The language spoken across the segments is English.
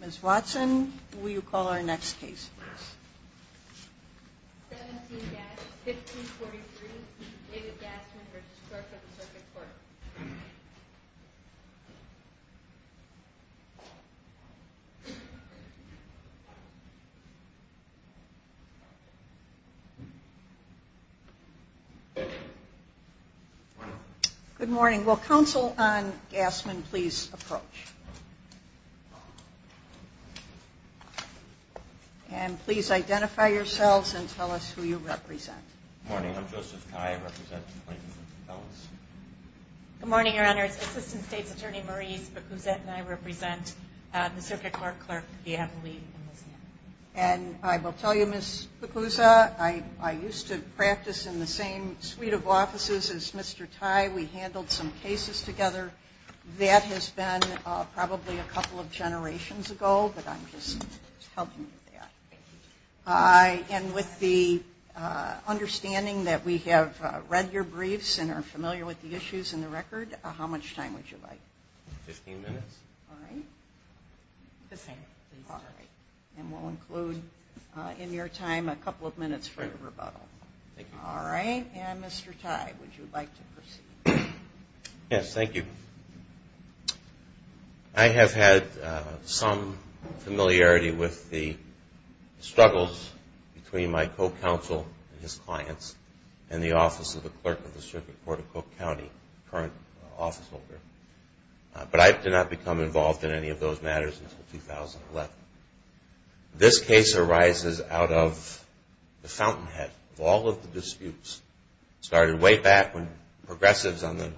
Ms. Watson, will you call our next case, please? 17-1543 David Gassman v. Clerk of the Circuit Court Good morning. Will Counsel on Gassman please approach. And please identify yourselves and tell us who you represent. Good morning. I'm Joseph Tye. I represent the Plaintiffs and Defendants. Good morning, Your Honors. Assistant State's Attorney, Maurice Bacuzette, and I represent the Circuit Court Clerk, V. M. Lee. And I will tell you, Ms. Bacuzette, I used to practice in the same suite of offices as Mr. Tye. We handled some cases together. That has been probably a couple of generations ago, but I'm just helping with that. And with the understanding that we have read your briefs and are familiar with the issues in the record, how much time would you like? 15 minutes. All right. The same, please. All right. And we'll include in your time a couple of minutes for your rebuttal. Thank you. All right. And Mr. Tye, would you like to proceed? Yes, thank you. I have had some familiarity with the struggles between my co-counsel and his clients and the Office of the Clerk of the Circuit Court of Cook County, the current office holder. But I did not become involved in any of those matters until 2011. This case arises out of the fountainhead of all of the disputes. It started way back when progressives on the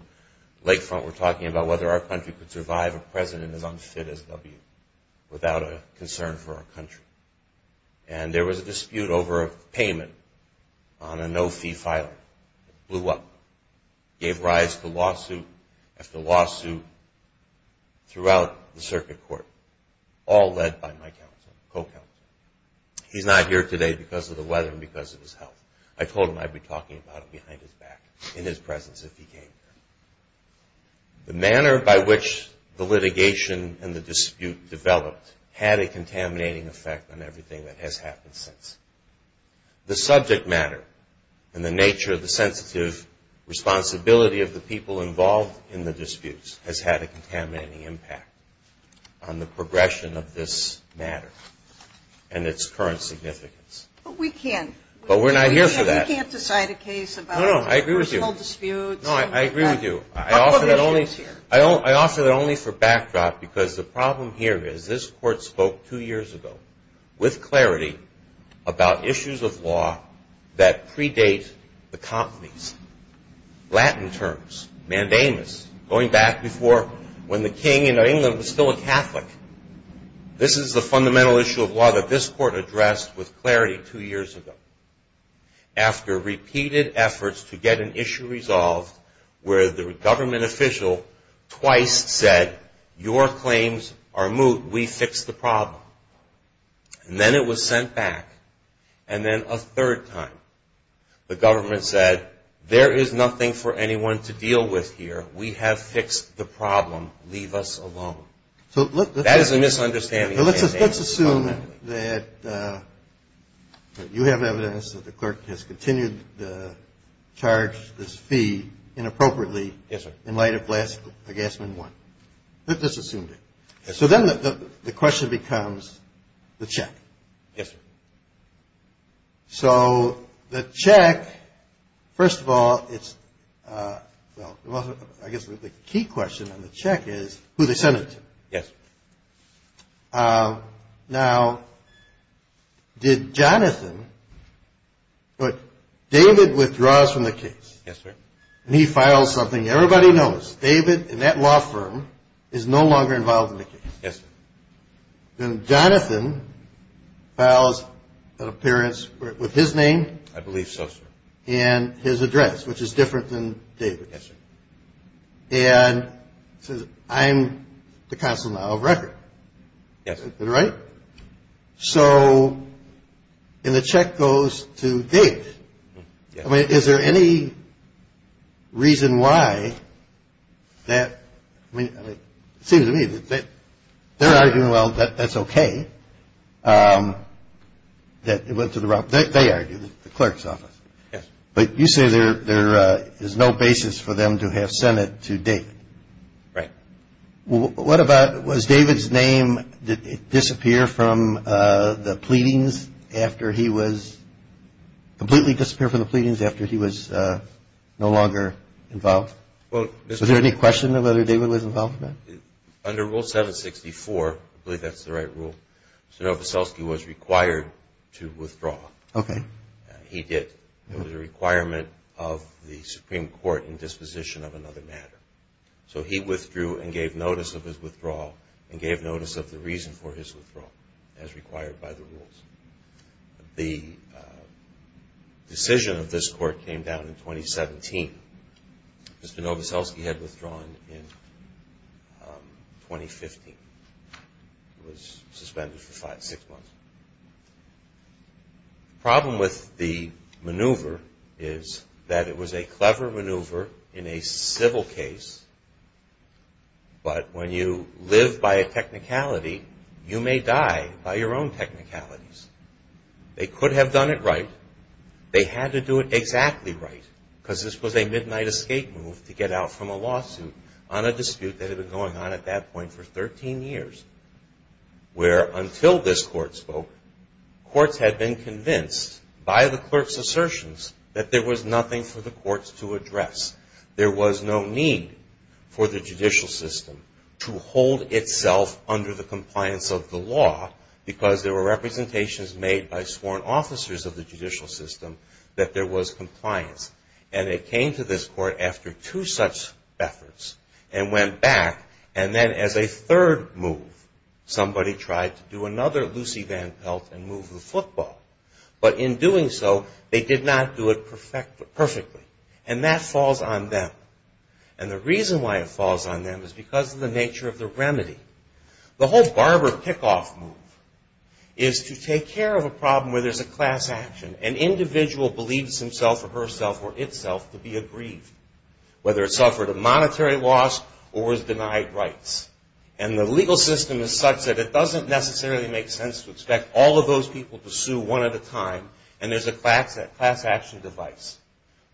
lakefront were talking about whether our country could survive a president as unfit as W without a concern for our country. And there was a dispute over a payment on a no-fee filing. It blew up, gave rise to lawsuit after lawsuit throughout the circuit court, all led by my co-counsel. He's not here today because of the weather and because of his health. I told him I'd be talking about it behind his back in his presence if he came here. The manner by which the litigation and the dispute developed had a contaminating effect on everything that has happened since. The subject matter and the nature of the sensitive responsibility of the people involved in the disputes has had a contaminating impact on the progression of this matter and its current significance. But we can't. But we're not here for that. You can't decide a case about personal disputes. No, I agree with you. I offer that only for backdrop because the problem here is this court spoke two years ago with clarity about issues of law that predate the companies. Latin terms, mandamus, going back before when the king in England was still a Catholic. This is the fundamental issue of law that this court addressed with clarity two years ago. After repeated efforts to get an issue resolved where the government official twice said, your claims are moot, we fixed the problem. And then it was sent back. And then a third time the government said, there is nothing for anyone to deal with here. We have fixed the problem. Leave us alone. That is a misunderstanding. Let's assume that you have evidence that the clerk has continued to charge this fee inappropriately. Yes, sir. In light of Glassman 1. Let's assume that. Yes, sir. So then the question becomes the check. Yes, sir. So the check, first of all, it's, well, I guess the key question on the check is who they sent it to. Yes, sir. Now, did Jonathan, but David withdraws from the case. Yes, sir. And he files something everybody knows. David and that law firm is no longer involved in the case. Yes, sir. And Jonathan files an appearance with his name. I believe so, sir. And his address, which is different than David. Yes, sir. And says, I'm the consul now of record. Yes, sir. Is that right? So and the check goes to David. I mean, is there any reason why that, I mean, it seems to me that they're arguing, well, that's okay, that it went to the wrong, they argue, the clerk's office. Yes. But you say there is no basis for them to have sent it to David. Right. What about, was David's name, did it disappear from the pleadings after he was, completely disappear from the pleadings after he was no longer involved? Well, Mr. Was there any question of whether David was involved in that? Under Rule 764, I believe that's the right rule, Mr. Nowicelski was required to withdraw. Okay. He did. It was a requirement of the Supreme Court in disposition of another matter. So he withdrew and gave notice of his withdrawal and gave notice of the reason for his withdrawal as required by the rules. The decision of this court came down in 2017. Mr. Nowicelski had withdrawn in 2015. He was suspended for five, six months. The problem with the maneuver is that it was a clever maneuver in a civil case, but when you live by a technicality, you may die by your own technicalities. They could have done it right. They had to do it exactly right because this was a midnight escape move to get out from a lawsuit on a dispute that had been going on at that point for 13 years, where until this court spoke, courts had been convinced by the clerk's assertions that there was nothing for the courts to address. There was no need for the judicial system to hold itself under the compliance of the law because there were representations made by sworn officers of the judicial system that there was compliance. And it came to this court after two such efforts and went back, and then as a third move, somebody tried to do another Lucy Van Pelt and move the football. But in doing so, they did not do it perfectly. And that falls on them. And the reason why it falls on them is because of the nature of the remedy. The whole Barber kickoff move is to take care of a problem where there's a class action. An individual believes himself or herself or itself to be aggrieved, whether it suffered a monetary loss or was denied rights. And the legal system is such that it doesn't necessarily make sense to expect all of those people to sue one at a time, and there's a class action device.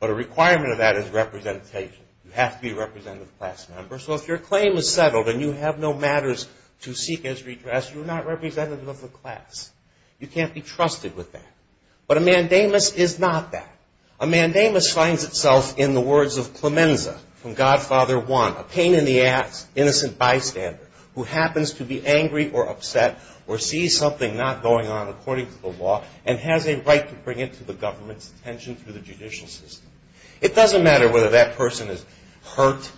But a requirement of that is representation. You have to be a representative class member. So if your claim is settled and you have no matters to seek as redress, you're not representative of the class. You can't be trusted with that. But a mandamus is not that. A mandamus finds itself in the words of Clemenza from Godfather I, a pain in the ass, innocent bystander who happens to be angry or upset or sees something not going on according to the law and has a right to bring it to the government's attention through the judicial system. It doesn't matter whether that person is hurt,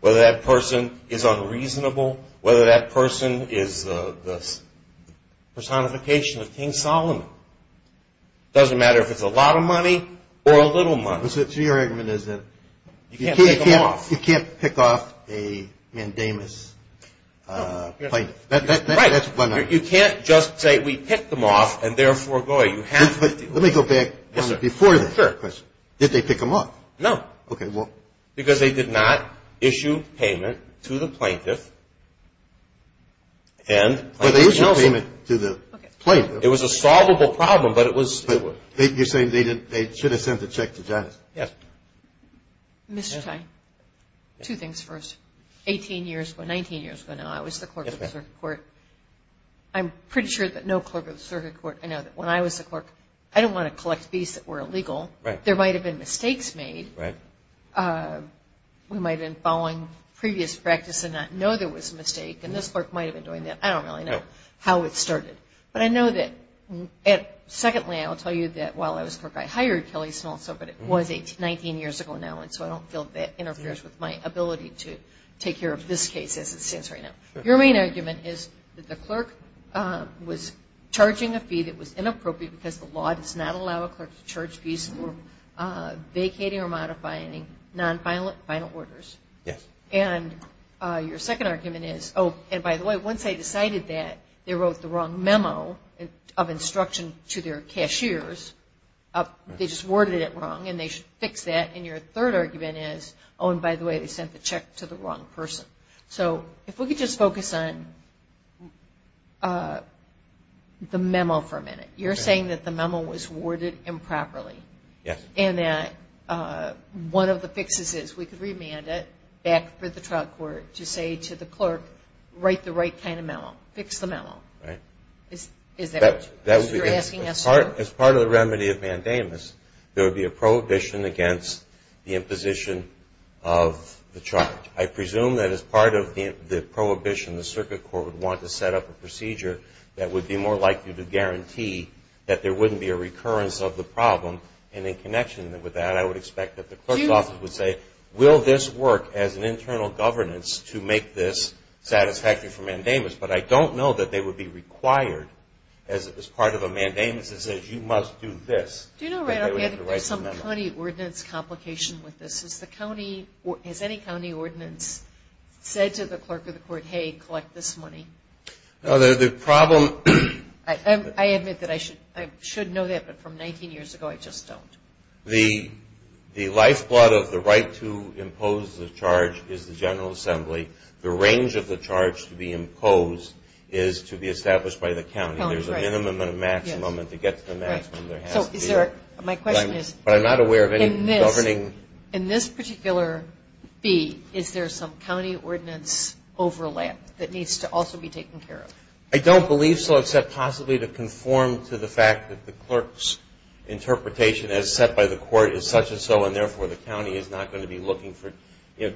whether that person is unreasonable, whether that person is the personification of King Solomon. It doesn't matter if it's a lot of money or a little money. So your argument is that you can't pick them off. You can't pick off a mandamus plaintiff. Right. That's one argument. You can't just say we picked them off and therefore go ahead. Let me go back before that. Sure. That's a fair question. Did they pick them off? No. Okay, well. Because they did not issue payment to the plaintiff. But they issued payment to the plaintiff. It was a solvable problem, but it was. You're saying they should have sent the check to Jonathan. Yes. Mr. Tye, two things first. Eighteen years ago, 19 years ago now, I was the clerk of the circuit court. I'm pretty sure that no clerk of the circuit court. I know that when I was the clerk, I didn't want to collect fees that were illegal. Right. There might have been mistakes made. Right. We might have been following previous practice and not know there was a mistake, and this clerk might have been doing that. I don't really know how it started. But I know that, secondly, I will tell you that while I was the clerk, I hired Kelly Snell, but it was 19 years ago now, and so I don't feel that interferes with my ability to take care of this case as it stands right now. Your main argument is that the clerk was charging a fee that was inappropriate because the law does not allow a clerk to charge fees for vacating or modifying non-final orders. Yes. And your second argument is, oh, and by the way, once they decided that, they wrote the wrong memo of instruction to their cashiers, they just worded it wrong, and they should fix that. And your third argument is, oh, and by the way, they sent the check to the wrong person. So if we could just focus on the memo for a minute. You're saying that the memo was worded improperly. Yes. And that one of the fixes is we could remand it back for the trial court to say to the clerk, write the right kind of memo, fix the memo. Right. Is that what you're asking us to do? As part of the remedy of mandamus, there would be a prohibition against the imposition of the charge. I presume that as part of the prohibition, the circuit court would want to set up a procedure that would be more likely to guarantee that there wouldn't be a recurrence of the problem. And in connection with that, I would expect that the clerk's office would say, will this work as an internal governance to make this satisfactory for mandamus? But I don't know that they would be required as part of a mandamus that says you must do this. Do you know, Ray, I think there's some county ordinance complication with this. Has any county ordinance said to the clerk of the court, hey, collect this money? No. The problem. I admit that I should know that. But from 19 years ago, I just don't. The lifeblood of the right to impose the charge is the General Assembly. The range of the charge to be imposed is to be established by the county. There's a minimum and a maximum. And to get to the maximum, there has to be. My question is. But I'm not aware of any governing. In this particular fee, is there some county ordinance overlap that needs to also be taken care of? I don't believe so, except possibly to conform to the fact that the clerk's interpretation, as set by the court, is such and so. And, therefore, the county is not going to be looking for.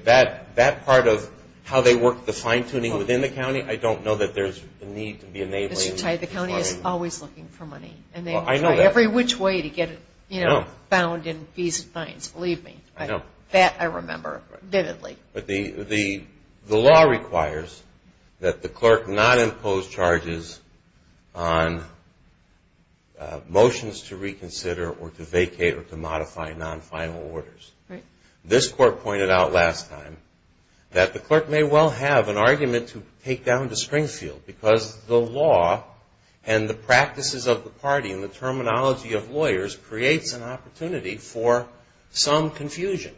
That part of how they work the fine-tuning within the county, I don't know that there's a need to be enabling. Mr. Tide, the county is always looking for money. And they will try every which way to get it bound in fees and fines. Believe me. I know. That I remember vividly. But the law requires that the clerk not impose charges on motions to reconsider or to vacate or to modify non-final orders. Right. This court pointed out last time that the clerk may well have an argument to take down to Springfield because the law and the practices of the party and the terminology of lawyers creates an opportunity for some confusion.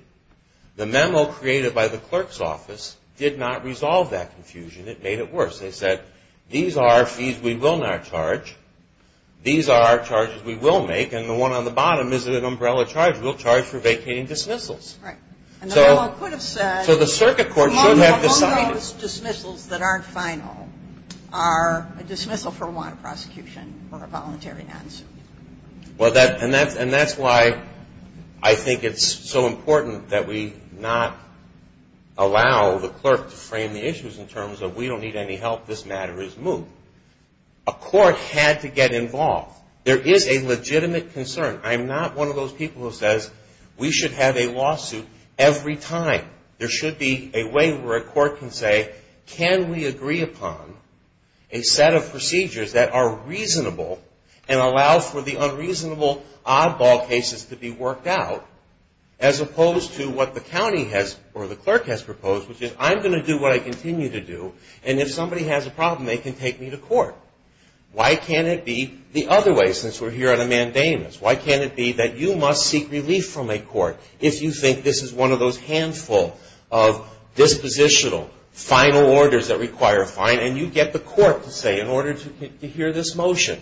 The memo created by the clerk's office did not resolve that confusion. It made it worse. They said, these are fees we will not charge. These are charges we will make. And the one on the bottom is an umbrella charge. We'll charge for vacating dismissals. Right. So the circuit court should have decided. Most dismissals that aren't final are a dismissal for one, prosecution, or a voluntary non-suit. And that's why I think it's so important that we not allow the clerk to frame the issues in terms of we don't need any help, this matter is moved. A court had to get involved. There is a legitimate concern. I'm not one of those people who says we should have a lawsuit every time. There should be a way where a court can say, can we agree upon a set of procedures that are reasonable and allow for the unreasonable oddball cases to be worked out, as opposed to what the county has or the clerk has proposed, which is I'm going to do what I continue to do, and if somebody has a problem, they can take me to court. Why can't it be the other way, since we're here on a mandamus? Why can't it be that you must seek relief from a court if you think this is one of those handful of dispositional, final orders that require a fine, and you get the court to say in order to hear this motion,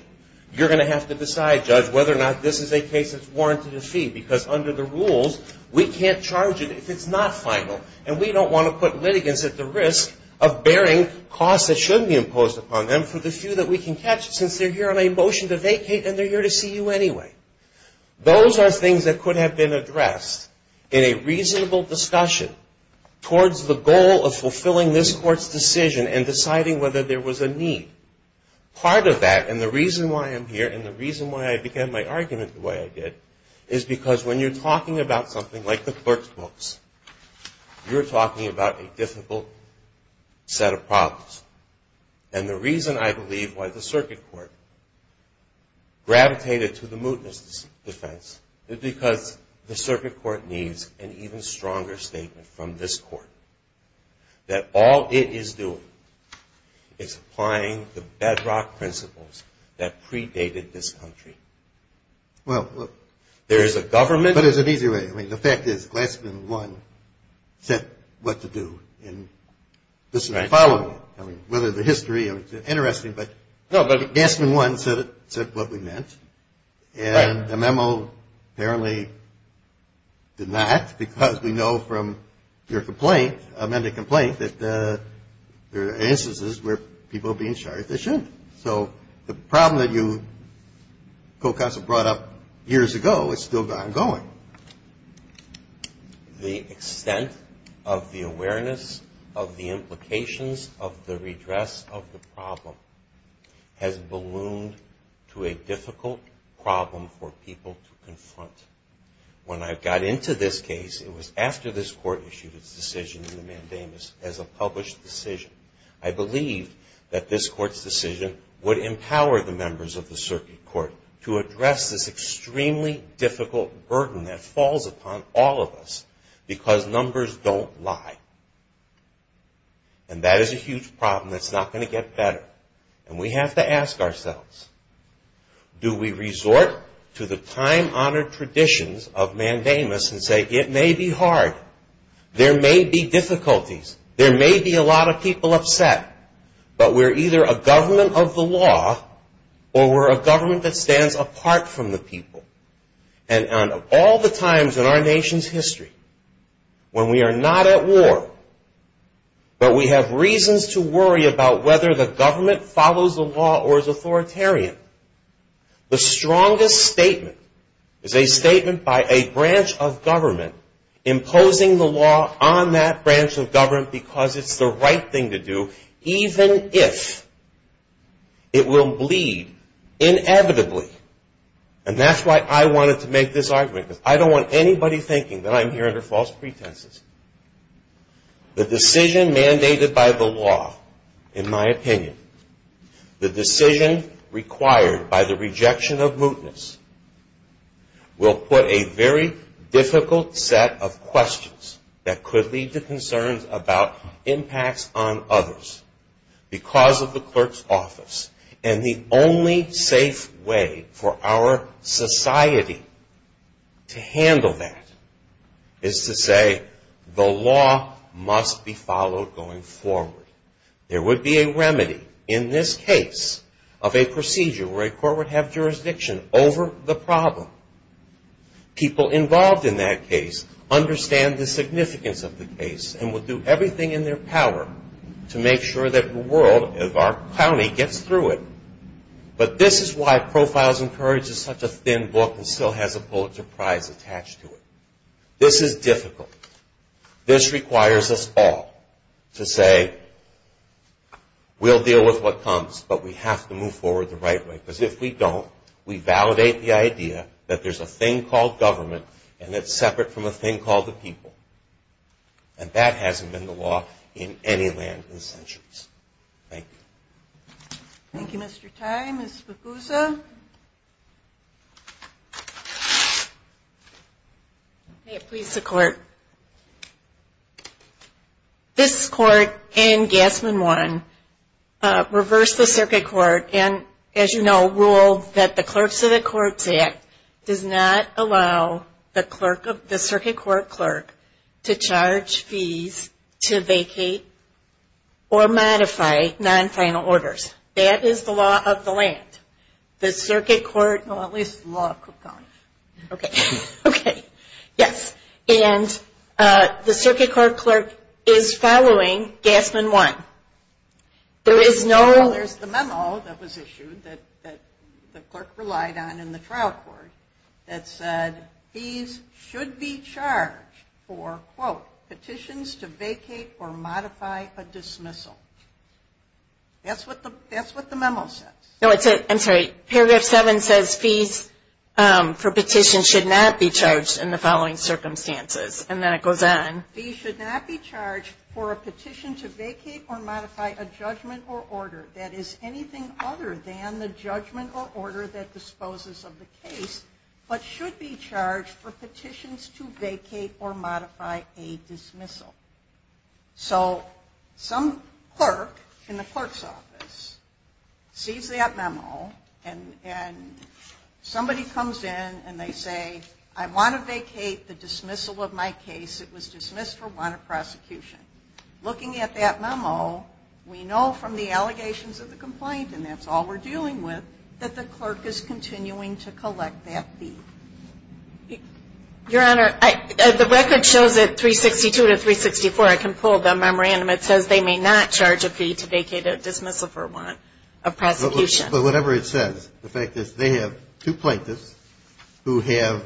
you're going to have to decide, Judge, whether or not this is a case that's warranted a fee, because under the rules, we can't charge it if it's not final, and we don't want to put litigants at the risk of bearing costs that shouldn't be imposed upon them for the few that we can catch, since they're here on a motion to vacate and they're here to see you anyway. Those are things that could have been addressed in a reasonable discussion towards the goal of fulfilling this court's decision and deciding whether there was a need. Part of that, and the reason why I'm here, and the reason why I began my argument the way I did, is because when you're talking about something like the clerk's books, you're talking about a difficult set of problems, and the reason I believe why the circuit court gravitated to the mootness defense is because the circuit court needs an even stronger statement from this court that all it is doing is applying the bedrock principles that predated this country. There is a government... But there's an easier way. I mean, the fact is Glassman 1 said what to do, and this is the following. I mean, whether the history, it's interesting, but Glassman 1 said what we meant, and the memo apparently did not because we know from your complaint, amended complaint, that there are instances where people are being charged they shouldn't. So the problem that you, Co-Counsel, brought up years ago is still ongoing. The extent of the awareness of the implications of the redress of the problem has ballooned to a difficult problem for people to confront. When I got into this case, it was after this court issued its decision in the mandamus as a published decision. I believed that this court's decision would empower the members of the circuit court to address this extremely difficult burden that falls upon all of us because numbers don't lie. And that is a huge problem that's not going to get better. And we have to ask ourselves, do we resort to the time-honored traditions of mandamus and say it may be hard, there may be difficulties, there may be a lot of people upset, but we're either a government of the law or we're a government that stands apart from the people. And of all the times in our nation's history when we are not at war but we have reasons to worry about whether the government follows the law or is authoritarian, imposing the law on that branch of government because it's the right thing to do even if it will bleed inevitably. And that's why I wanted to make this argument because I don't want anybody thinking that I'm here under false pretenses. The decision mandated by the law, in my opinion, the decision required by the rejection of mootness, will put a very difficult set of questions that could lead to concerns about impacts on others because of the clerk's office. And the only safe way for our society to handle that is to say the law must be followed going forward. There would be a remedy in this case of a procedure where a court would have jurisdiction over the problem. People involved in that case understand the significance of the case and would do everything in their power to make sure that the world, our county, gets through it. But this is why Profiles in Courage is such a thin book and still has a Pulitzer Prize attached to it. This is difficult. This requires us all to say we'll deal with what comes but we have to move forward the right way. Because if we don't, we validate the idea that there's a thing called government and it's separate from a thing called the people. And that hasn't been the law in any land in centuries. Thank you. Thank you, Mr. Tye. Ms. Bacusa? May it please the Court. This Court and Gassman-Warren reversed the Circuit Court and, as you know, ruled that the Clerks of the Courts Act does not allow the Circuit Court clerk to charge fees to vacate or modify non-final orders. That is the law of the land. The Circuit Court, well, at least the law of Cook County. Okay. Yes. And the Circuit Court clerk is following Gassman-Warren. There is no – Well, there's the memo that was issued that the clerk relied on in the trial court that said fees should be charged for, quote, petitions to vacate or modify a dismissal. That's what the memo says. No, I'm sorry. Paragraph 7 says fees for petitions should not be charged in the following circumstances. And then it goes on. Fees should not be charged for a petition to vacate or modify a judgment or order that is anything other than the judgment or order that disposes of the case, but should be charged for petitions to vacate or modify a dismissal. So some clerk in the clerk's office sees that memo and somebody comes in and they say, I want to vacate the dismissal of my case. It was dismissed for want of prosecution. Looking at that memo, we know from the allegations of the complaint, and that's all we're dealing with, that the clerk is continuing to collect that fee. Your Honor, the record shows that 362 to 364. I can pull the memorandum. It says they may not charge a fee to vacate a dismissal for want of prosecution. But whatever it says, the fact is they have two plaintiffs who have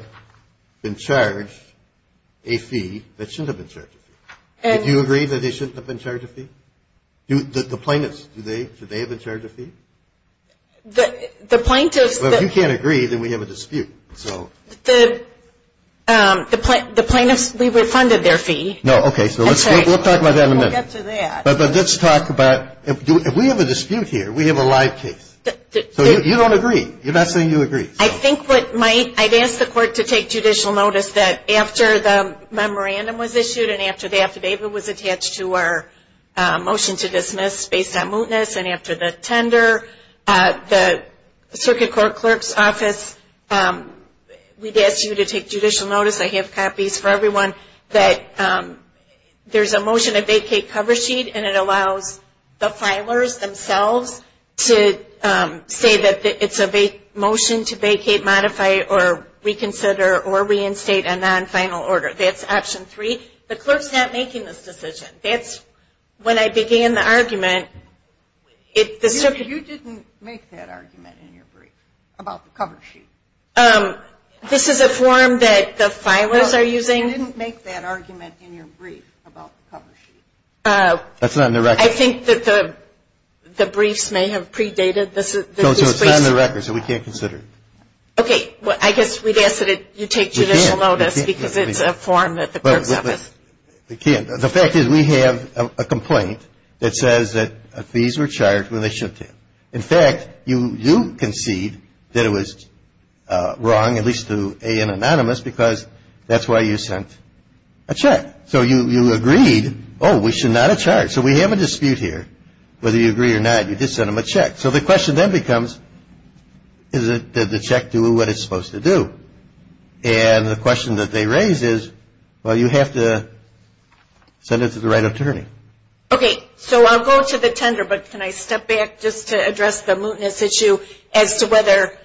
been charged a fee that shouldn't have been charged a fee. Do you agree that they shouldn't have been charged a fee? The plaintiffs, should they have been charged a fee? The plaintiffs that you can't agree, then we have a dispute. The plaintiffs, we refunded their fee. Okay, so we'll talk about that in a minute. We'll get to that. But let's talk about, if we have a dispute here, we have a live case. So you don't agree? You're not saying you agree? I think what might, I'd ask the court to take judicial notice that after the memorandum was issued and after the affidavit was attached to our motion to dismiss based on mootness and after the tender, the circuit court clerk's office, we'd ask you to take judicial notice, I have copies for everyone, that there's a motion to vacate cover sheet and it allows the filers themselves to say that it's a motion to vacate, modify, or reconsider or reinstate a non-final order. That's option three. The clerk's not making this decision. That's when I began the argument. You didn't make that argument in your brief about the cover sheet. This is a form that the filers are using. You didn't make that argument in your brief about the cover sheet. That's not in the record. I think that the briefs may have predated this brief. No, it's not in the record, so we can't consider it. Okay, I guess we'd ask that you take judicial notice because it's a form that the clerk's office. We can't. The fact is we have a complaint that says that fees were charged when they should have. In fact, you do concede that it was wrong, at least to A.N. Anonymous, because that's why you sent a check. So you agreed, oh, we should not have charged. So we have a dispute here whether you agree or not. You did send them a check. So the question then becomes, did the check do what it's supposed to do? And the question that they raise is, well, you have to send it to the right attorney. Okay. So I'll go to the tender, but can I step back just to address the mootness issue as to whether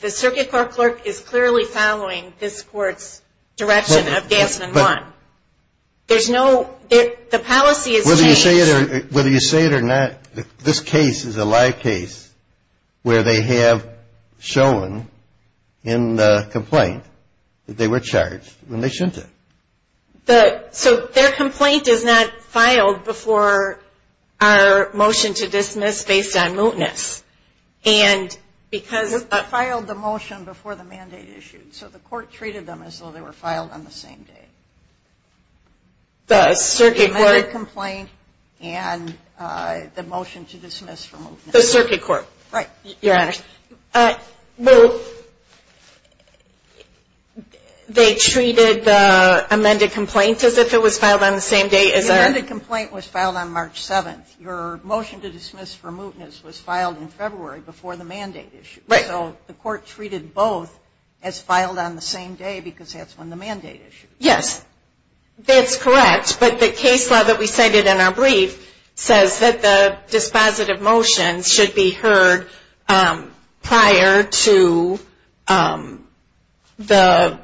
the circuit court clerk is clearly following this court's direction of Gasman 1? There's no – the policy is changed. Whether you say it or not, this case is a live case where they have shown in the complaint that they were charged when they shouldn't have. So their complaint is not filed before our motion to dismiss based on mootness. And because – We filed the motion before the mandate issued. So the court treated them as though they were filed on the same day. The circuit court – The amended complaint and the motion to dismiss for mootness. The circuit court. Right. Your Honor. Well, they treated the amended complaint as if it was filed on the same day as our – The amended complaint was filed on March 7th. Your motion to dismiss for mootness was filed in February before the mandate issue. Right. So the court treated both as filed on the same day because that's when the mandate issued. Yes. That's correct. But the case law that we cited in our brief says that the dispositive motion should be heard prior to the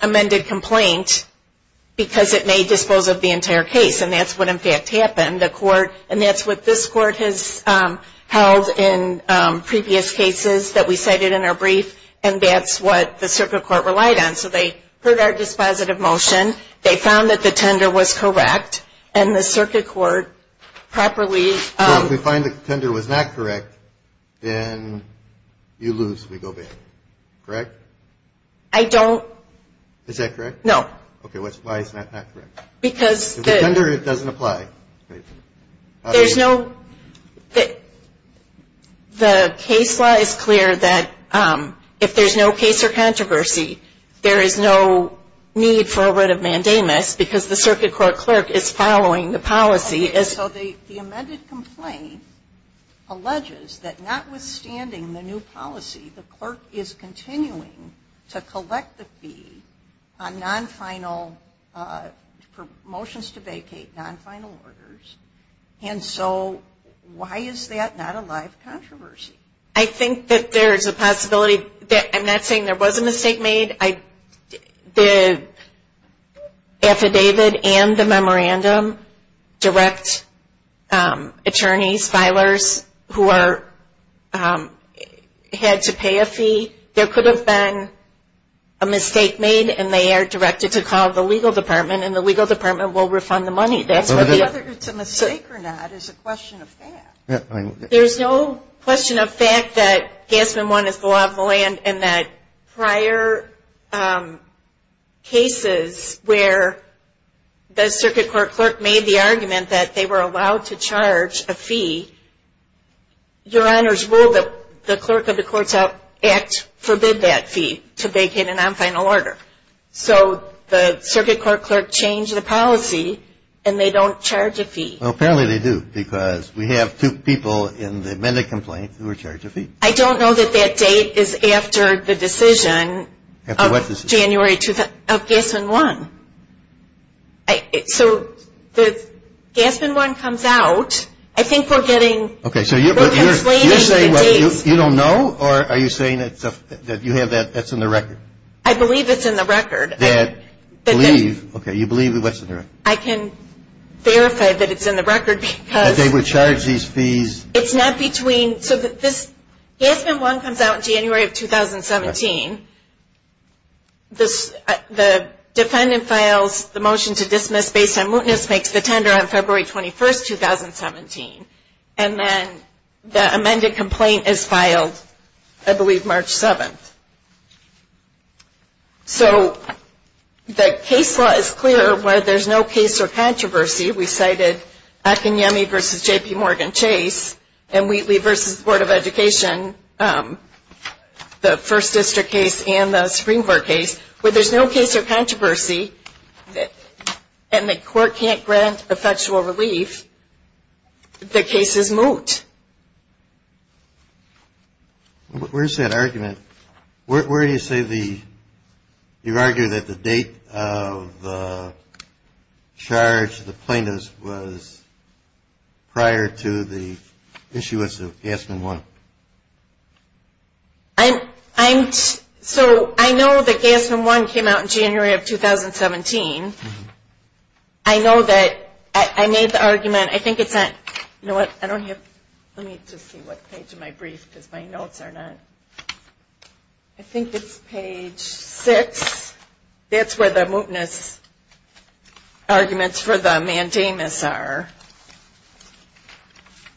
amended complaint because it may dispose of the entire case. And that's what, in fact, happened. The court – and that's what this court has held in previous cases that we cited in our brief. And that's what the circuit court relied on. So they heard our dispositive motion. They found that the tender was correct. And the circuit court properly – Well, if we find the tender was not correct, then you lose. We go back. Correct? I don't – Is that correct? No. Okay. Why is that not correct? Because – If the tender doesn't apply. There's no – the case law is clear that if there's no case or controversy, there is no need for a writ of mandamus because the circuit court clerk is following the policy. Okay. So the amended complaint alleges that notwithstanding the new policy, the clerk is continuing to collect the fee on non-final – for motions to vacate non-final orders. And so why is that not a live controversy? I think that there's a possibility – I'm not saying there was a mistake made. The affidavit and the memorandum direct attorneys, filers, who are – had to pay a fee. There could have been a mistake made, and they are directed to call the legal department and the legal department will refund the money. That's what the – Whether it's a mistake or not is a question of that. There's no question of fact that Gassman 1 is the law of the land and that prior cases where the circuit court clerk made the argument that they were allowed to charge a fee, Your Honors, will the clerk of the Courts Act forbid that fee to vacate a non-final order? So the circuit court clerk changed the policy and they don't charge a fee. Well, apparently they do because we have two people in the amended complaint who are charged a fee. I don't know that that date is after the decision of January – of Gassman 1. So if Gassman 1 comes out, I think we're getting – we're conflating the dates. Okay, so you're saying you don't know or are you saying that you have that – that's in the record? I believe it's in the record. That – believe – okay, you believe what's in the record. I can verify that it's in the record because – That they would charge these fees. It's not between – so this – Gassman 1 comes out in January of 2017. The defendant files the motion to dismiss based on mootness, makes the tender on February 21st, 2017, and then the amended complaint is filed, I believe, March 7th. So the case law is clear where there's no case or controversy. We cited Akinyemi v. J.P. Morgan Chase and Wheatley v. Board of Education, the First District case and the Supreme Court case, where there's no case or controversy and the court can't grant effectual relief, the case is moot. Where's that argument? Where do you say the – you argue that the date of the charge, the plaintiff's, was prior to the issuance of Gassman 1? I'm – so I know that Gassman 1 came out in January of 2017. I know that – I made the argument. Again, I think it's on – you know what, I don't have – let me just see what page of my brief, because my notes are not – I think it's page 6. That's where the mootness arguments for the mandamus are.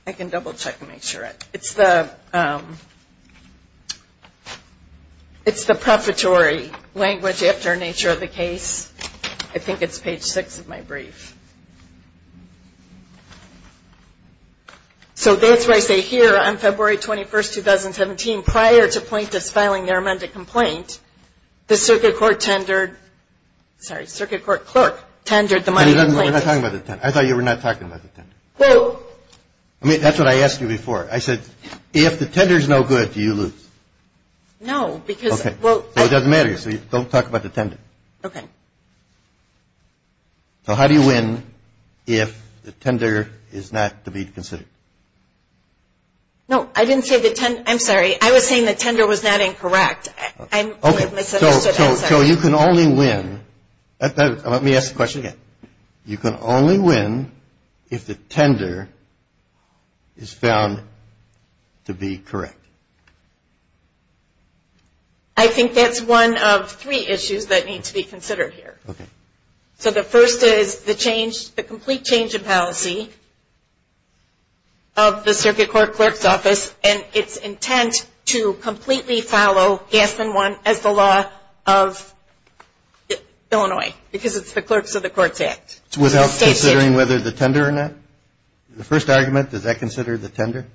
I can double-check and make sure. It's the – it's the preparatory language after Nature of the Case. I think it's page 6 of my brief. So that's where I say, here, on February 21, 2017, prior to plaintiffs filing their amended complaint, the circuit court tendered – sorry, circuit court clerk tendered the money. We're not talking about the tender. I thought you were not talking about the tender. Well – I mean, that's what I asked you before. I said, if the tender's no good, do you lose? No, because – Okay. Well – Well, it doesn't matter, so don't talk about the tender. Okay. So how do you win if the tender is not to be considered? No, I didn't say the – I'm sorry. I was saying the tender was not incorrect. I'm – Okay. So you can only win – let me ask the question again. You can only win if the tender is found to be correct. I think that's one of three issues that need to be considered here. Okay. So the first is the change – the complete change in policy of the circuit court clerk's office and its intent to completely follow Gaspin 1 as the law of Illinois, because it's the Clerks of the Courts Act. So without considering whether the tender or not? The first argument, does that consider the tender?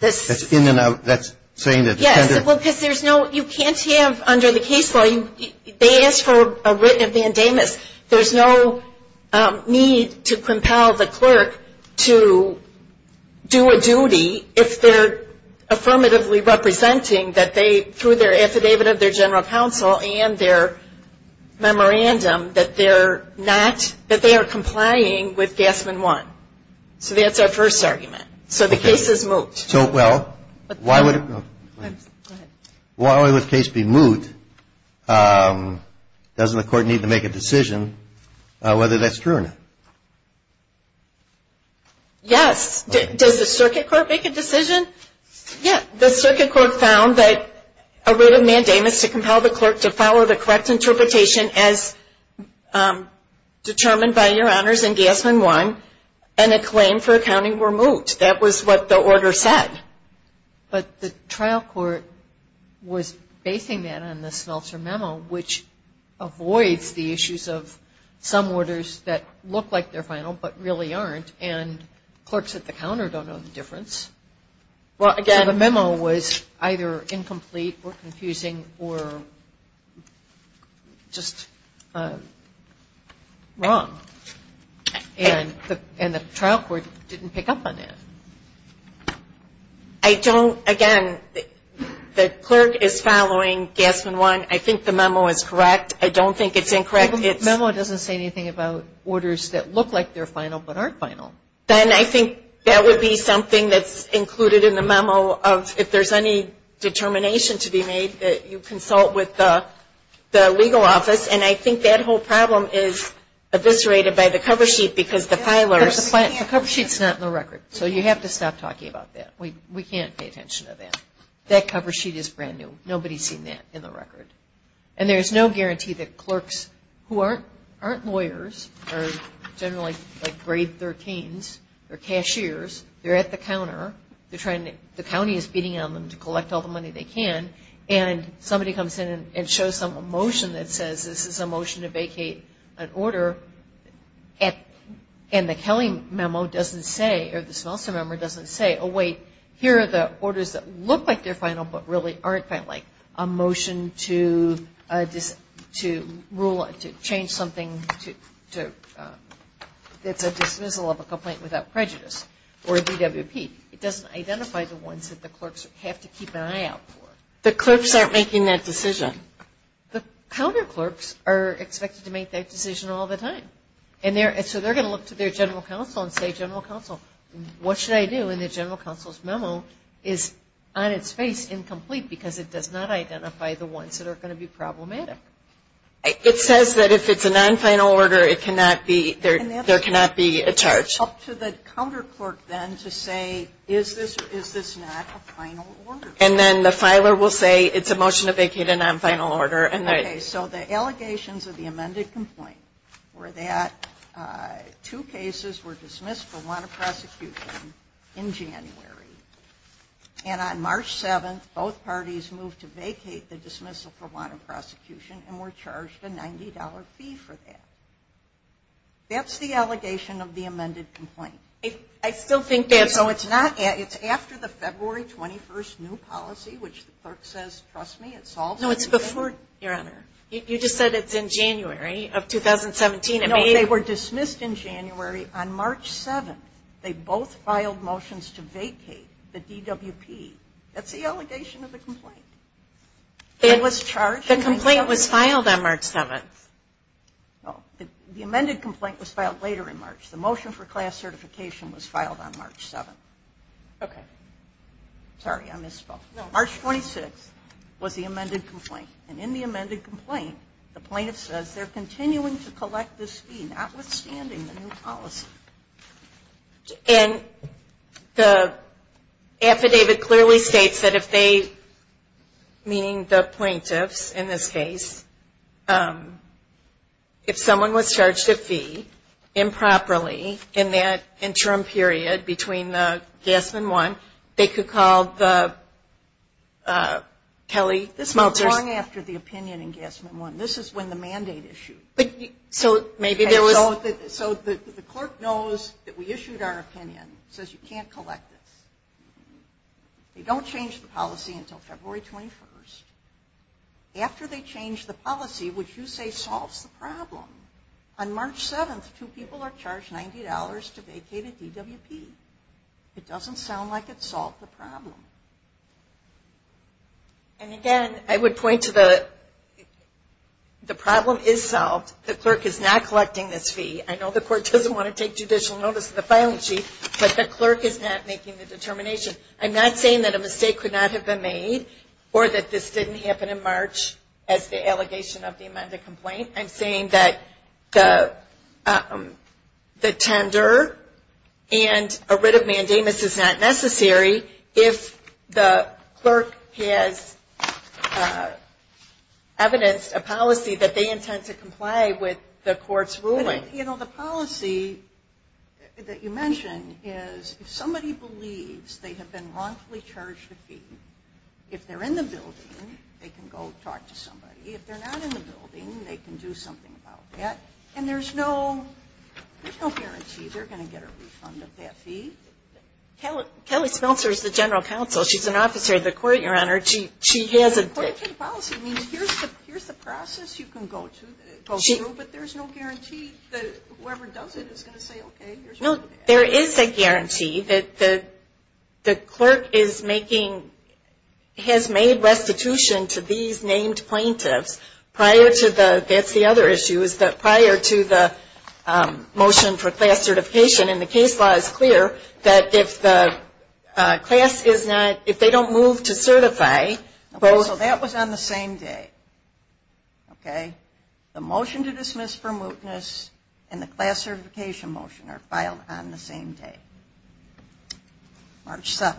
That's in and out. That's saying that the tender – Yes, well, because there's no – you can't have under the case law – they asked for a written mandamus. There's no need to compel the clerk to do a duty if they're affirmatively representing that they, through their affidavit of their general counsel and their memorandum, that they're not – that they are complying with Gaspin 1. So that's our first argument. So the case is moot. So, well, why would a case be moot? Doesn't the court need to make a decision whether that's true or not? Yes. Does the circuit court make a decision? Yes. The circuit court found that a written mandamus to compel the clerk to follow the correct interpretation as determined by Your Honors in Gaspin 1 and a claim for accounting were moot. That was what the order said. But the trial court was basing that on the Smeltzer memo, which avoids the issues of some orders that look like they're final but really aren't, and clerks at the counter don't know the difference. Well, again – Well, the memo was either incomplete or confusing or just wrong. And the trial court didn't pick up on that. I don't – again, the clerk is following Gaspin 1. I think the memo is correct. I don't think it's incorrect. The memo doesn't say anything about orders that look like they're final but aren't final. Then I think that would be something that's included in the memo of if there's any determination to be made that you consult with the legal office, and I think that whole problem is eviscerated by the cover sheet because the filers – The cover sheet's not in the record, so you have to stop talking about that. We can't pay attention to that. That cover sheet is brand new. Nobody's seen that in the record. And there's no guarantee that clerks who aren't lawyers are generally like grade 13s or cashiers. They're at the counter. They're trying to – the county is beating on them to collect all the money they can, and somebody comes in and shows some motion that says this is a motion to vacate an order, and the Kelley memo doesn't say – or the Smeltzer memo doesn't say, oh, wait, here are the orders that look like they're final but really aren't final, like a motion to change something that's a dismissal of a complaint without prejudice or a DWP. It doesn't identify the ones that the clerks have to keep an eye out for. The clerks aren't making that decision. The counter clerks are expected to make that decision all the time, and so they're going to look to their general counsel and say, general counsel, what should I do? And the general counsel's memo is on its face incomplete because it does not identify the ones that are going to be problematic. It says that if it's a non-final order, it cannot be – there cannot be a charge. Up to the counter clerk then to say, is this not a final order? And then the filer will say it's a motion to vacate a non-final order. Okay. So the allegations of the amended complaint were that two cases were dismissed for want of prosecution in January, and on March 7th, both parties moved to vacate the dismissal for want of prosecution and were charged a $90 fee for that. That's the allegation of the amended complaint. I still think that's – So it's not – it's after the February 21st new policy, which the clerk says, trust me, it solves the issue. No, it's before, Your Honor. You just said it's in January of 2017. No, they were dismissed in January. On March 7th, they both filed motions to vacate the DWP. That's the allegation of the complaint. It was charged on March 7th. The complaint was filed on March 7th. No, the amended complaint was filed later in March. The motion for class certification was filed on March 7th. Okay. Sorry, I misspoke. No, March 26th was the amended complaint. And in the amended complaint, the plaintiff says they're continuing to collect this fee, notwithstanding the new policy. And the affidavit clearly states that if they, meaning the plaintiffs in this case, if someone was charged a fee improperly in that interim period between the gas and one, they could call the Kelley, the smelters. That's long after the opinion in Gasman 1. This is when the mandate issued. So maybe there was. So the clerk knows that we issued our opinion, says you can't collect this. They don't change the policy until February 21st. After they change the policy, which you say solves the problem, on March 7th, two people are charged $90 to vacate a DWP. It doesn't sound like it solved the problem. And again, I would point to the problem is solved. The clerk is not collecting this fee. I know the court doesn't want to take judicial notice of the filing sheet, but the clerk is not making the determination. I'm not saying that a mistake could not have been made or that this didn't happen in March as the allegation of the amended complaint. I'm saying that the tender and a writ of mandamus is not necessary if the clerk has evidenced a policy that they intend to comply with the court's ruling. You know, the policy that you mentioned is if somebody believes they have been wrongfully charged a fee, if they're in the building, they can go talk to somebody. If they're not in the building, they can do something about that. And there's no guarantee they're going to get a refund of that fee. Kelly Spelzer is the general counsel. She's an officer of the court, Your Honor. But according to the policy, it means here's the process you can go through, but there's no guarantee that whoever does it is going to say, okay, here's what we're going to ask. No, there is a guarantee that the clerk is making, has made restitution to these named plaintiffs prior to the, that's the other issue, is that prior to the motion for class certification. And the case law is clear that if the class is not, if they don't move to certify, both. So that was on the same day. Okay. The motion to dismiss for mootness and the class certification motion are filed on the same day. March 7th.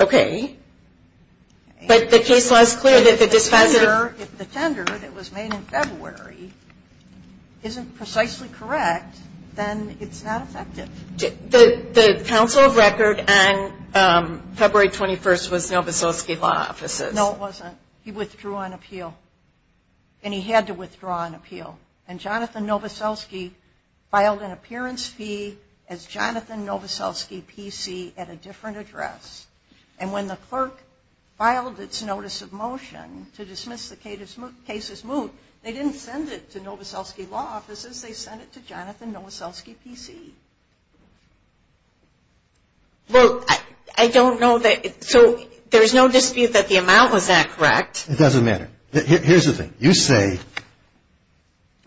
Okay. But the case law is clear that the dispenser. If the tender that was made in February isn't precisely correct, then it's not effective. The counsel of record on February 21st was Novoselsky Law Offices. No, it wasn't. He withdrew on appeal. And he had to withdraw on appeal. And Jonathan Novoselsky filed an appearance fee as Jonathan Novoselsky PC at a different address. And when the clerk filed its notice of motion to dismiss the case as moot, they didn't send it to Novoselsky Law Offices, they sent it to Jonathan Novoselsky PC. Well, I don't know that. So there's no dispute that the amount was not correct. It doesn't matter. Here's the thing. You say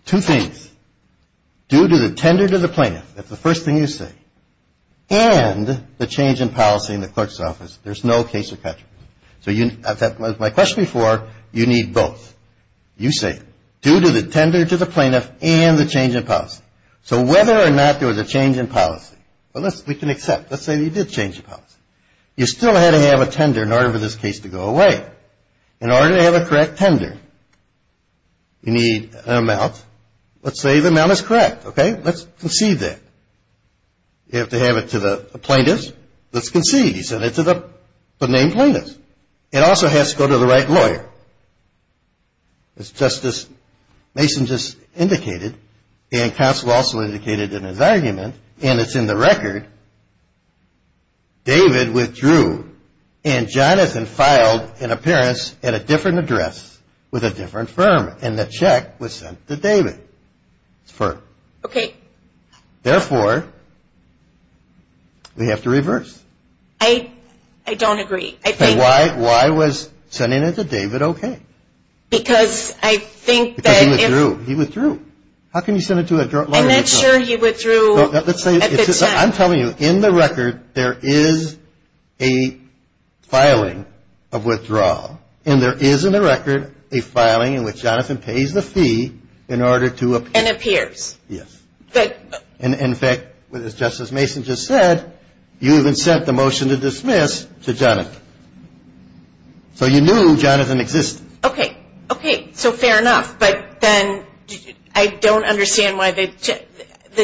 two things. Due to the tender to the plaintiff, that's the first thing you say, and the change in policy in the clerk's office, there's no case of contradiction. So my question before, you need both. You say due to the tender to the plaintiff and the change in policy. So whether or not there was a change in policy, we can accept. Let's say you did change the policy. You still had to have a tender in order for this case to go away. In order to have a correct tender, you need an amount. Let's say the amount is correct. Okay? Let's concede that. You have to have it to the plaintiff. Let's concede. You send it to the named plaintiff. It also has to go to the right lawyer. As Justice Mason just indicated, and counsel also indicated in his argument, and it's in the record, David withdrew, and Jonathan filed an appearance at a different address with a different firm, and the check was sent to David's firm. Okay. Therefore, we have to reverse. I don't agree. And why was sending it to David okay? Because I think that if he withdrew. He withdrew. How can you send it to a lawyer? I'm not sure he withdrew at the time. I'm telling you, in the record, there is a filing of withdrawal, and there is in the record a filing in which Jonathan pays the fee in order to appear. And appears. Yes. And, in fact, as Justice Mason just said, you even sent the motion to dismiss to Jonathan. So you knew Jonathan existed. Okay. Okay. So fair enough. But then I don't understand why the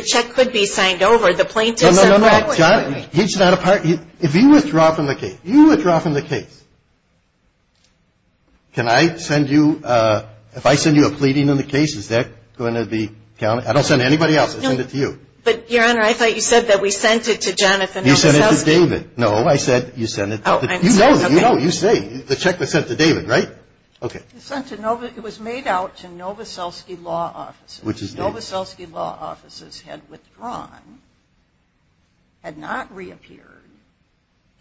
check could be signed over. The plaintiff said. No, no, no, no. He's not a part. If you withdraw from the case, you withdraw from the case. Can I send you? If I send you a pleading in the case, is that going to be counted? I don't send it to anybody else. I send it to you. But, Your Honor, I thought you said that we sent it to Jonathan Novoselsky. You sent it to David. No, I said you sent it. Oh, I'm sorry. You know. You know. You say. The check was sent to David, right? Okay. It was made out to Novoselsky Law Offices. Which is. Novoselsky Law Offices had withdrawn, had not reappeared,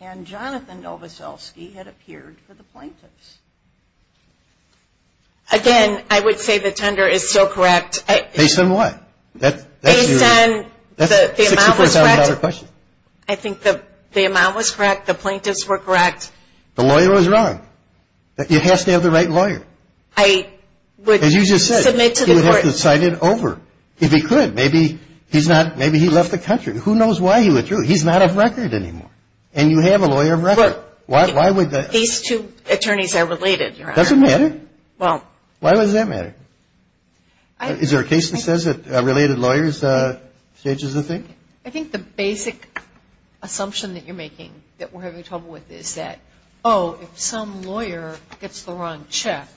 and Jonathan Novoselsky had appeared for the plaintiffs. Again, I would say the tender is still correct. Based on what? Based on the amount was correct. That's a $64,000 question. I think the amount was correct. The plaintiffs were correct. The lawyer was wrong. You have to have the right lawyer. I would submit to the court. As you just said, he would have to cite it over. If he could, maybe he left the country. Who knows why he withdrew? He's not of record anymore. And you have a lawyer of record. These two attorneys are related, Your Honor. Does it matter? Well. Why does that matter? Is there a case that says that a related lawyer stages a thing? I think the basic assumption that you're making that we're having trouble with is that, oh, if some lawyer gets the wrong check,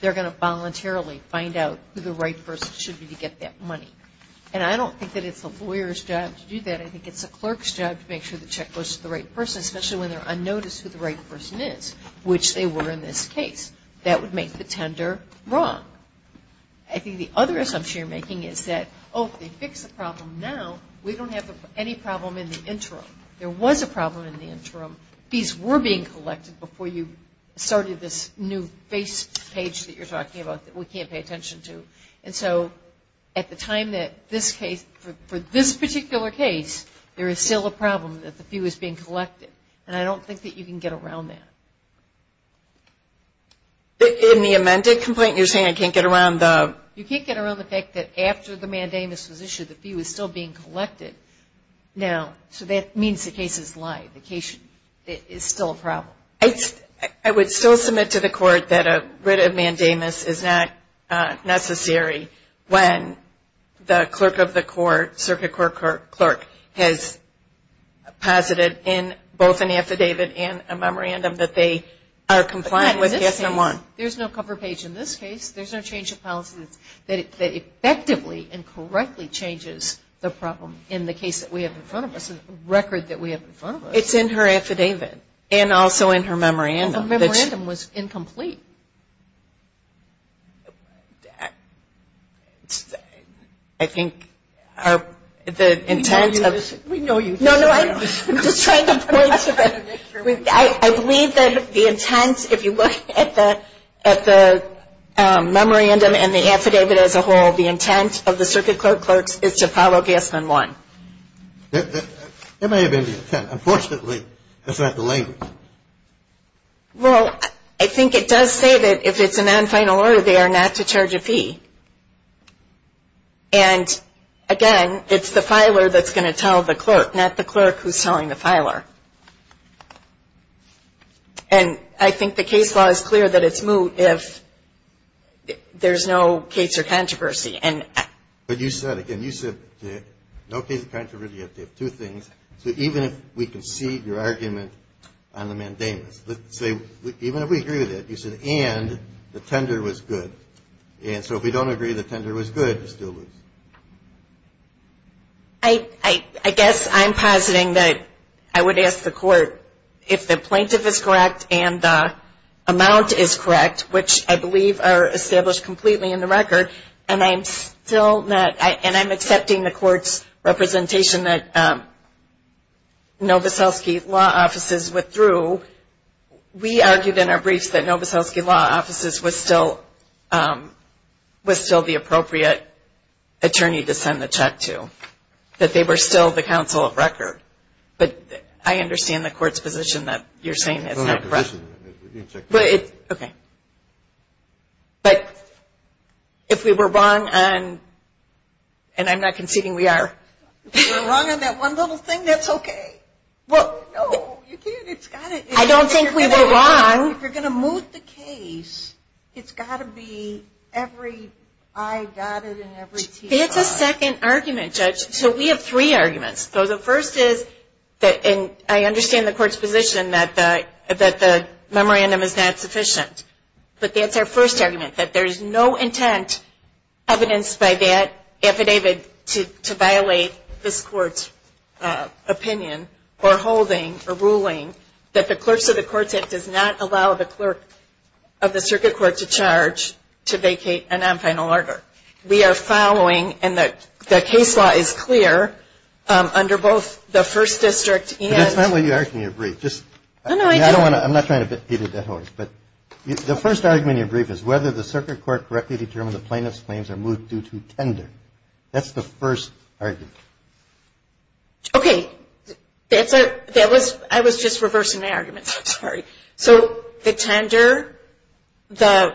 they're going to voluntarily find out who the right person should be to get that money. And I don't think that it's a lawyer's job to do that. I think it's a clerk's job to make sure the check goes to the right person, especially when they're unnoticed who the right person is, which they were in this case. That would make the tender wrong. I think the other assumption you're making is that, oh, if they fix the problem now, we don't have any problem in the interim. There was a problem in the interim. Fees were being collected before you started this new face page that you're talking about that we can't pay attention to. And so at the time that this case, for this particular case, there is still a problem that the fee was being collected. And I don't think that you can get around that. In the amended complaint, you're saying I can't get around the? You can't get around the fact that after the mandamus was issued, the fee was still being collected. Now, so that means the case is live. The case is still a problem. I would still submit to the court that a writ of mandamus is not necessary when the clerk of the court, circuit court clerk, has posited in both an affidavit and a memorandum that they are compliant with. There's no cover page in this case. There's no change of policy that effectively and correctly changes the problem in the case that we have in front of us, the record that we have in front of us. It's in her affidavit and also in her memorandum. The memorandum was incomplete. I think the intent of? We know you. No, no. I'm just trying to point to that. I believe that the intent, if you look at the memorandum and the affidavit as a whole, the intent of the circuit court clerks is to follow Gasman 1. It may have been the intent. Unfortunately, that's not the language. Well, I think it does say that if it's a non-final order, they are not to charge a fee. And, again, it's the filer that's going to tell the clerk, not the clerk who's telling the filer. And I think the case law is clear that it's moot if there's no case or controversy. But you said, again, you said no case of controversy if they have two things. So even if we concede your argument on the mandamus, let's say even if we agree with it, you said, and the tender was good. And so if we don't agree the tender was good, you still lose. I guess I'm positing that I would ask the court if the plaintiff is correct and the amount is correct, which I believe are established completely in the record, and I'm accepting the court's representation that Novoselsky Law Offices withdrew. We argued in our briefs that Novoselsky Law Offices was still the appropriate attorney to send the check to, that they were still the counsel of record. But I understand the court's position that you're saying it's not correct. Okay. But if we were wrong on, and I'm not conceding we are. If we were wrong on that one little thing, that's okay. No, you can't. I don't think we were wrong. If you're going to moot the case, it's got to be every I dotted and every T dot. It's a second argument, Judge. So we have three arguments. So the first is, and I understand the court's position that the memorandum is not sufficient, but that's our first argument, that there's no intent evidenced by that affidavit to violate this court's opinion or holding or ruling that the clerks of the courts, it does not allow the clerk of the circuit court to charge to vacate a non-final order. We are following, and the case law is clear, under both the first district and... But that's not what you asked in your brief. I'm not trying to beat a dead horse, but the first argument in your brief is whether the circuit court correctly determined the plaintiff's claims are moot due to tender. That's the first argument. I was just reversing my argument. I'm sorry. So the tender, the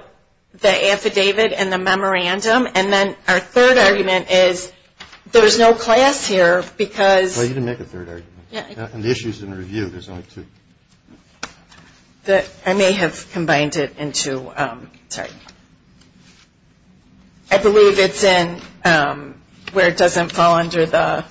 affidavit, and the memorandum, and then our third argument is there's no class here because... Well, you didn't make a third argument. Yeah. And the issue's in review. There's only two. I may have combined it into... Sorry. I believe it's in where it doesn't fall under the...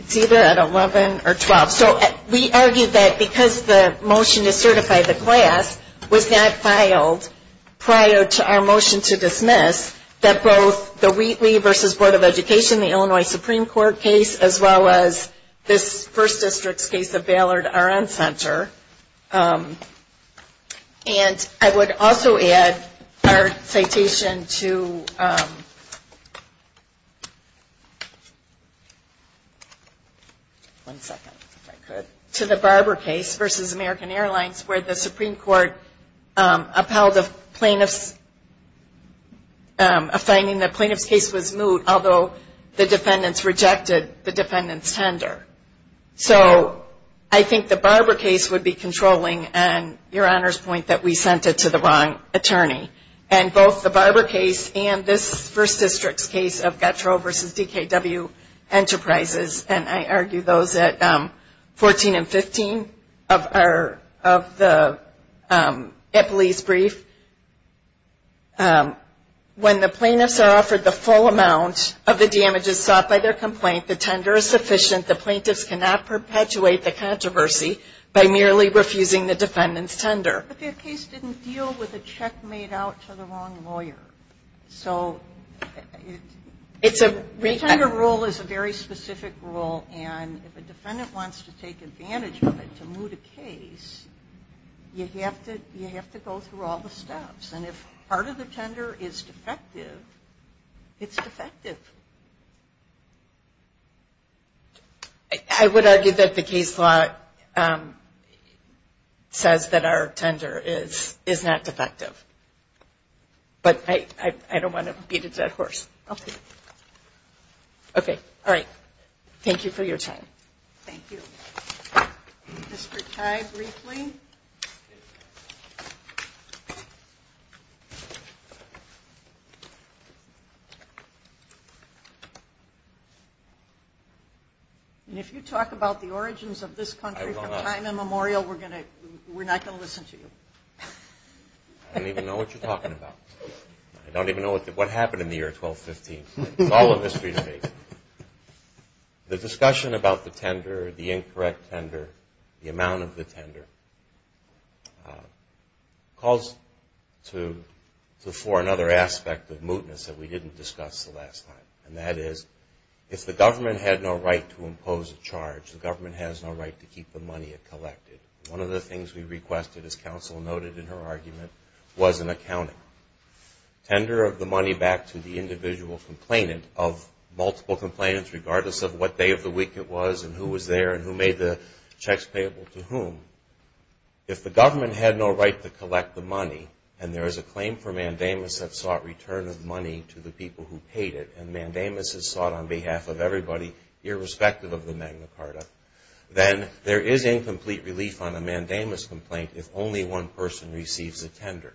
It's either at 11 or 12. So we argue that because the motion to certify the class was not filed prior to our motion to dismiss, that both the Wheatley v. Board of Education, the Illinois Supreme Court case, as well as this first district's case of Ballard-R.N. Center. And I would also add our citation to... One second, if I could. To the Barber case versus American Airlines, where the Supreme Court upheld a finding that the plaintiff's case was moot, although the defendants rejected the defendant's tender. So I think the Barber case would be controlling, and Your Honor's point that we sent it to the wrong attorney. And both the Barber case and this first district's case of Gettro v. DKW Enterprises, and I argue those at 14 and 15 of the Ippolese brief, when the plaintiffs are offered the full amount of the damages sought by their complaint, the tender is sufficient, the plaintiffs cannot perpetuate the controversy by merely refusing the defendant's tender. But their case didn't deal with a check made out to the wrong lawyer. So the tender rule is a very specific rule, and if a defendant wants to take advantage of it to moot a case, you have to go through all the steps. And if part of the tender is defective, it's defective. I would argue that the case law says that our tender is not defective. But I don't want to beat a dead horse. Okay. All right. Thank you for your time. Thank you. Mr. Chai, briefly. If you talk about the origins of this country from time immemorial, we're not going to listen to you. I don't even know what you're talking about. I don't even know what happened in the year 1215. It's all a mystery to me. The discussion about the tender, the incorrect tender, the amount of the tender, calls to the fore another aspect of mootness that we didn't discuss the last time, and that is if the government had no right to impose a charge, the government has no right to keep the money it collected. One of the things we requested, as counsel noted in her argument, was an accounting. Tender of the money back to the individual complainant of multiple complainants, regardless of what day of the week it was and who was there and who made the checks payable to whom. If the government had no right to collect the money, and there is a claim for mandamus that sought return of money to the people who paid it, and mandamus is sought on behalf of everybody, irrespective of the Magna Carta, then there is incomplete relief on a mandamus complaint if only one person receives a tender.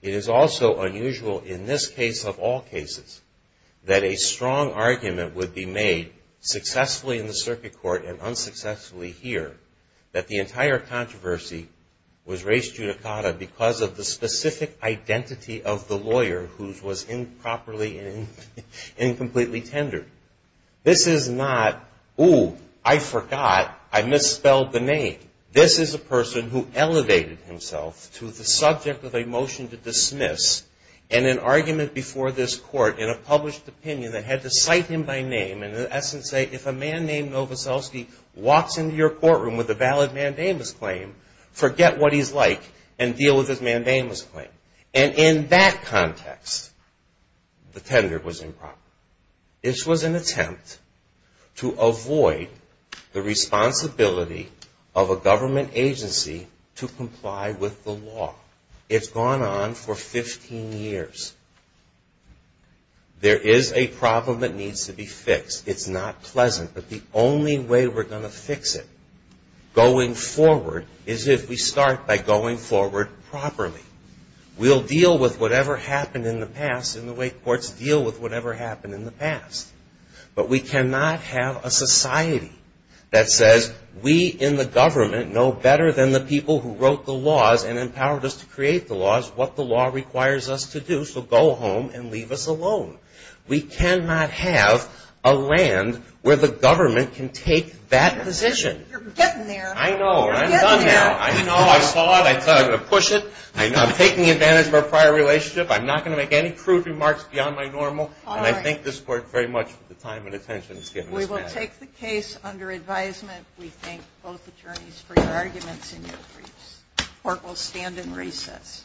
It is also unusual in this case, of all cases, that a strong argument would be made successfully in the circuit court and unsuccessfully here that the entire controversy was raised judicata because of the specific identity of the lawyer who was improperly and incompletely tendered. This is not, ooh, I forgot, I misspelled the name. This is a person who elevated himself to the subject of a motion to dismiss and an argument before this court in a published opinion that had to cite him by name and in essence say if a man named Novoselsky walks into your courtroom with a valid mandamus claim, forget what he's like and deal with his mandamus claim. And in that context, the tender was improper. This was an attempt to avoid the responsibility of a government agency to comply with the law. It's gone on for 15 years. There is a problem that needs to be fixed. It's not pleasant, but the only way we're going to fix it going forward is if we start by going forward properly. We'll deal with whatever happened in the past in the way courts deal with whatever happened in the past. But we cannot have a society that says we in the government know better than the people who wrote the laws and empowered us to create the laws what the law requires us to do, so go home and leave us alone. We cannot have a land where the government can take that position. You're getting there. I know. I saw it. I saw it. I'm going to push it. I'm taking advantage of our prior relationship. I'm not going to make any crude remarks beyond my normal, and I thank this court very much for the time and attention it's given us. We will take the case under advisement. We thank both attorneys for your arguments and your briefs. Court will stand in recess.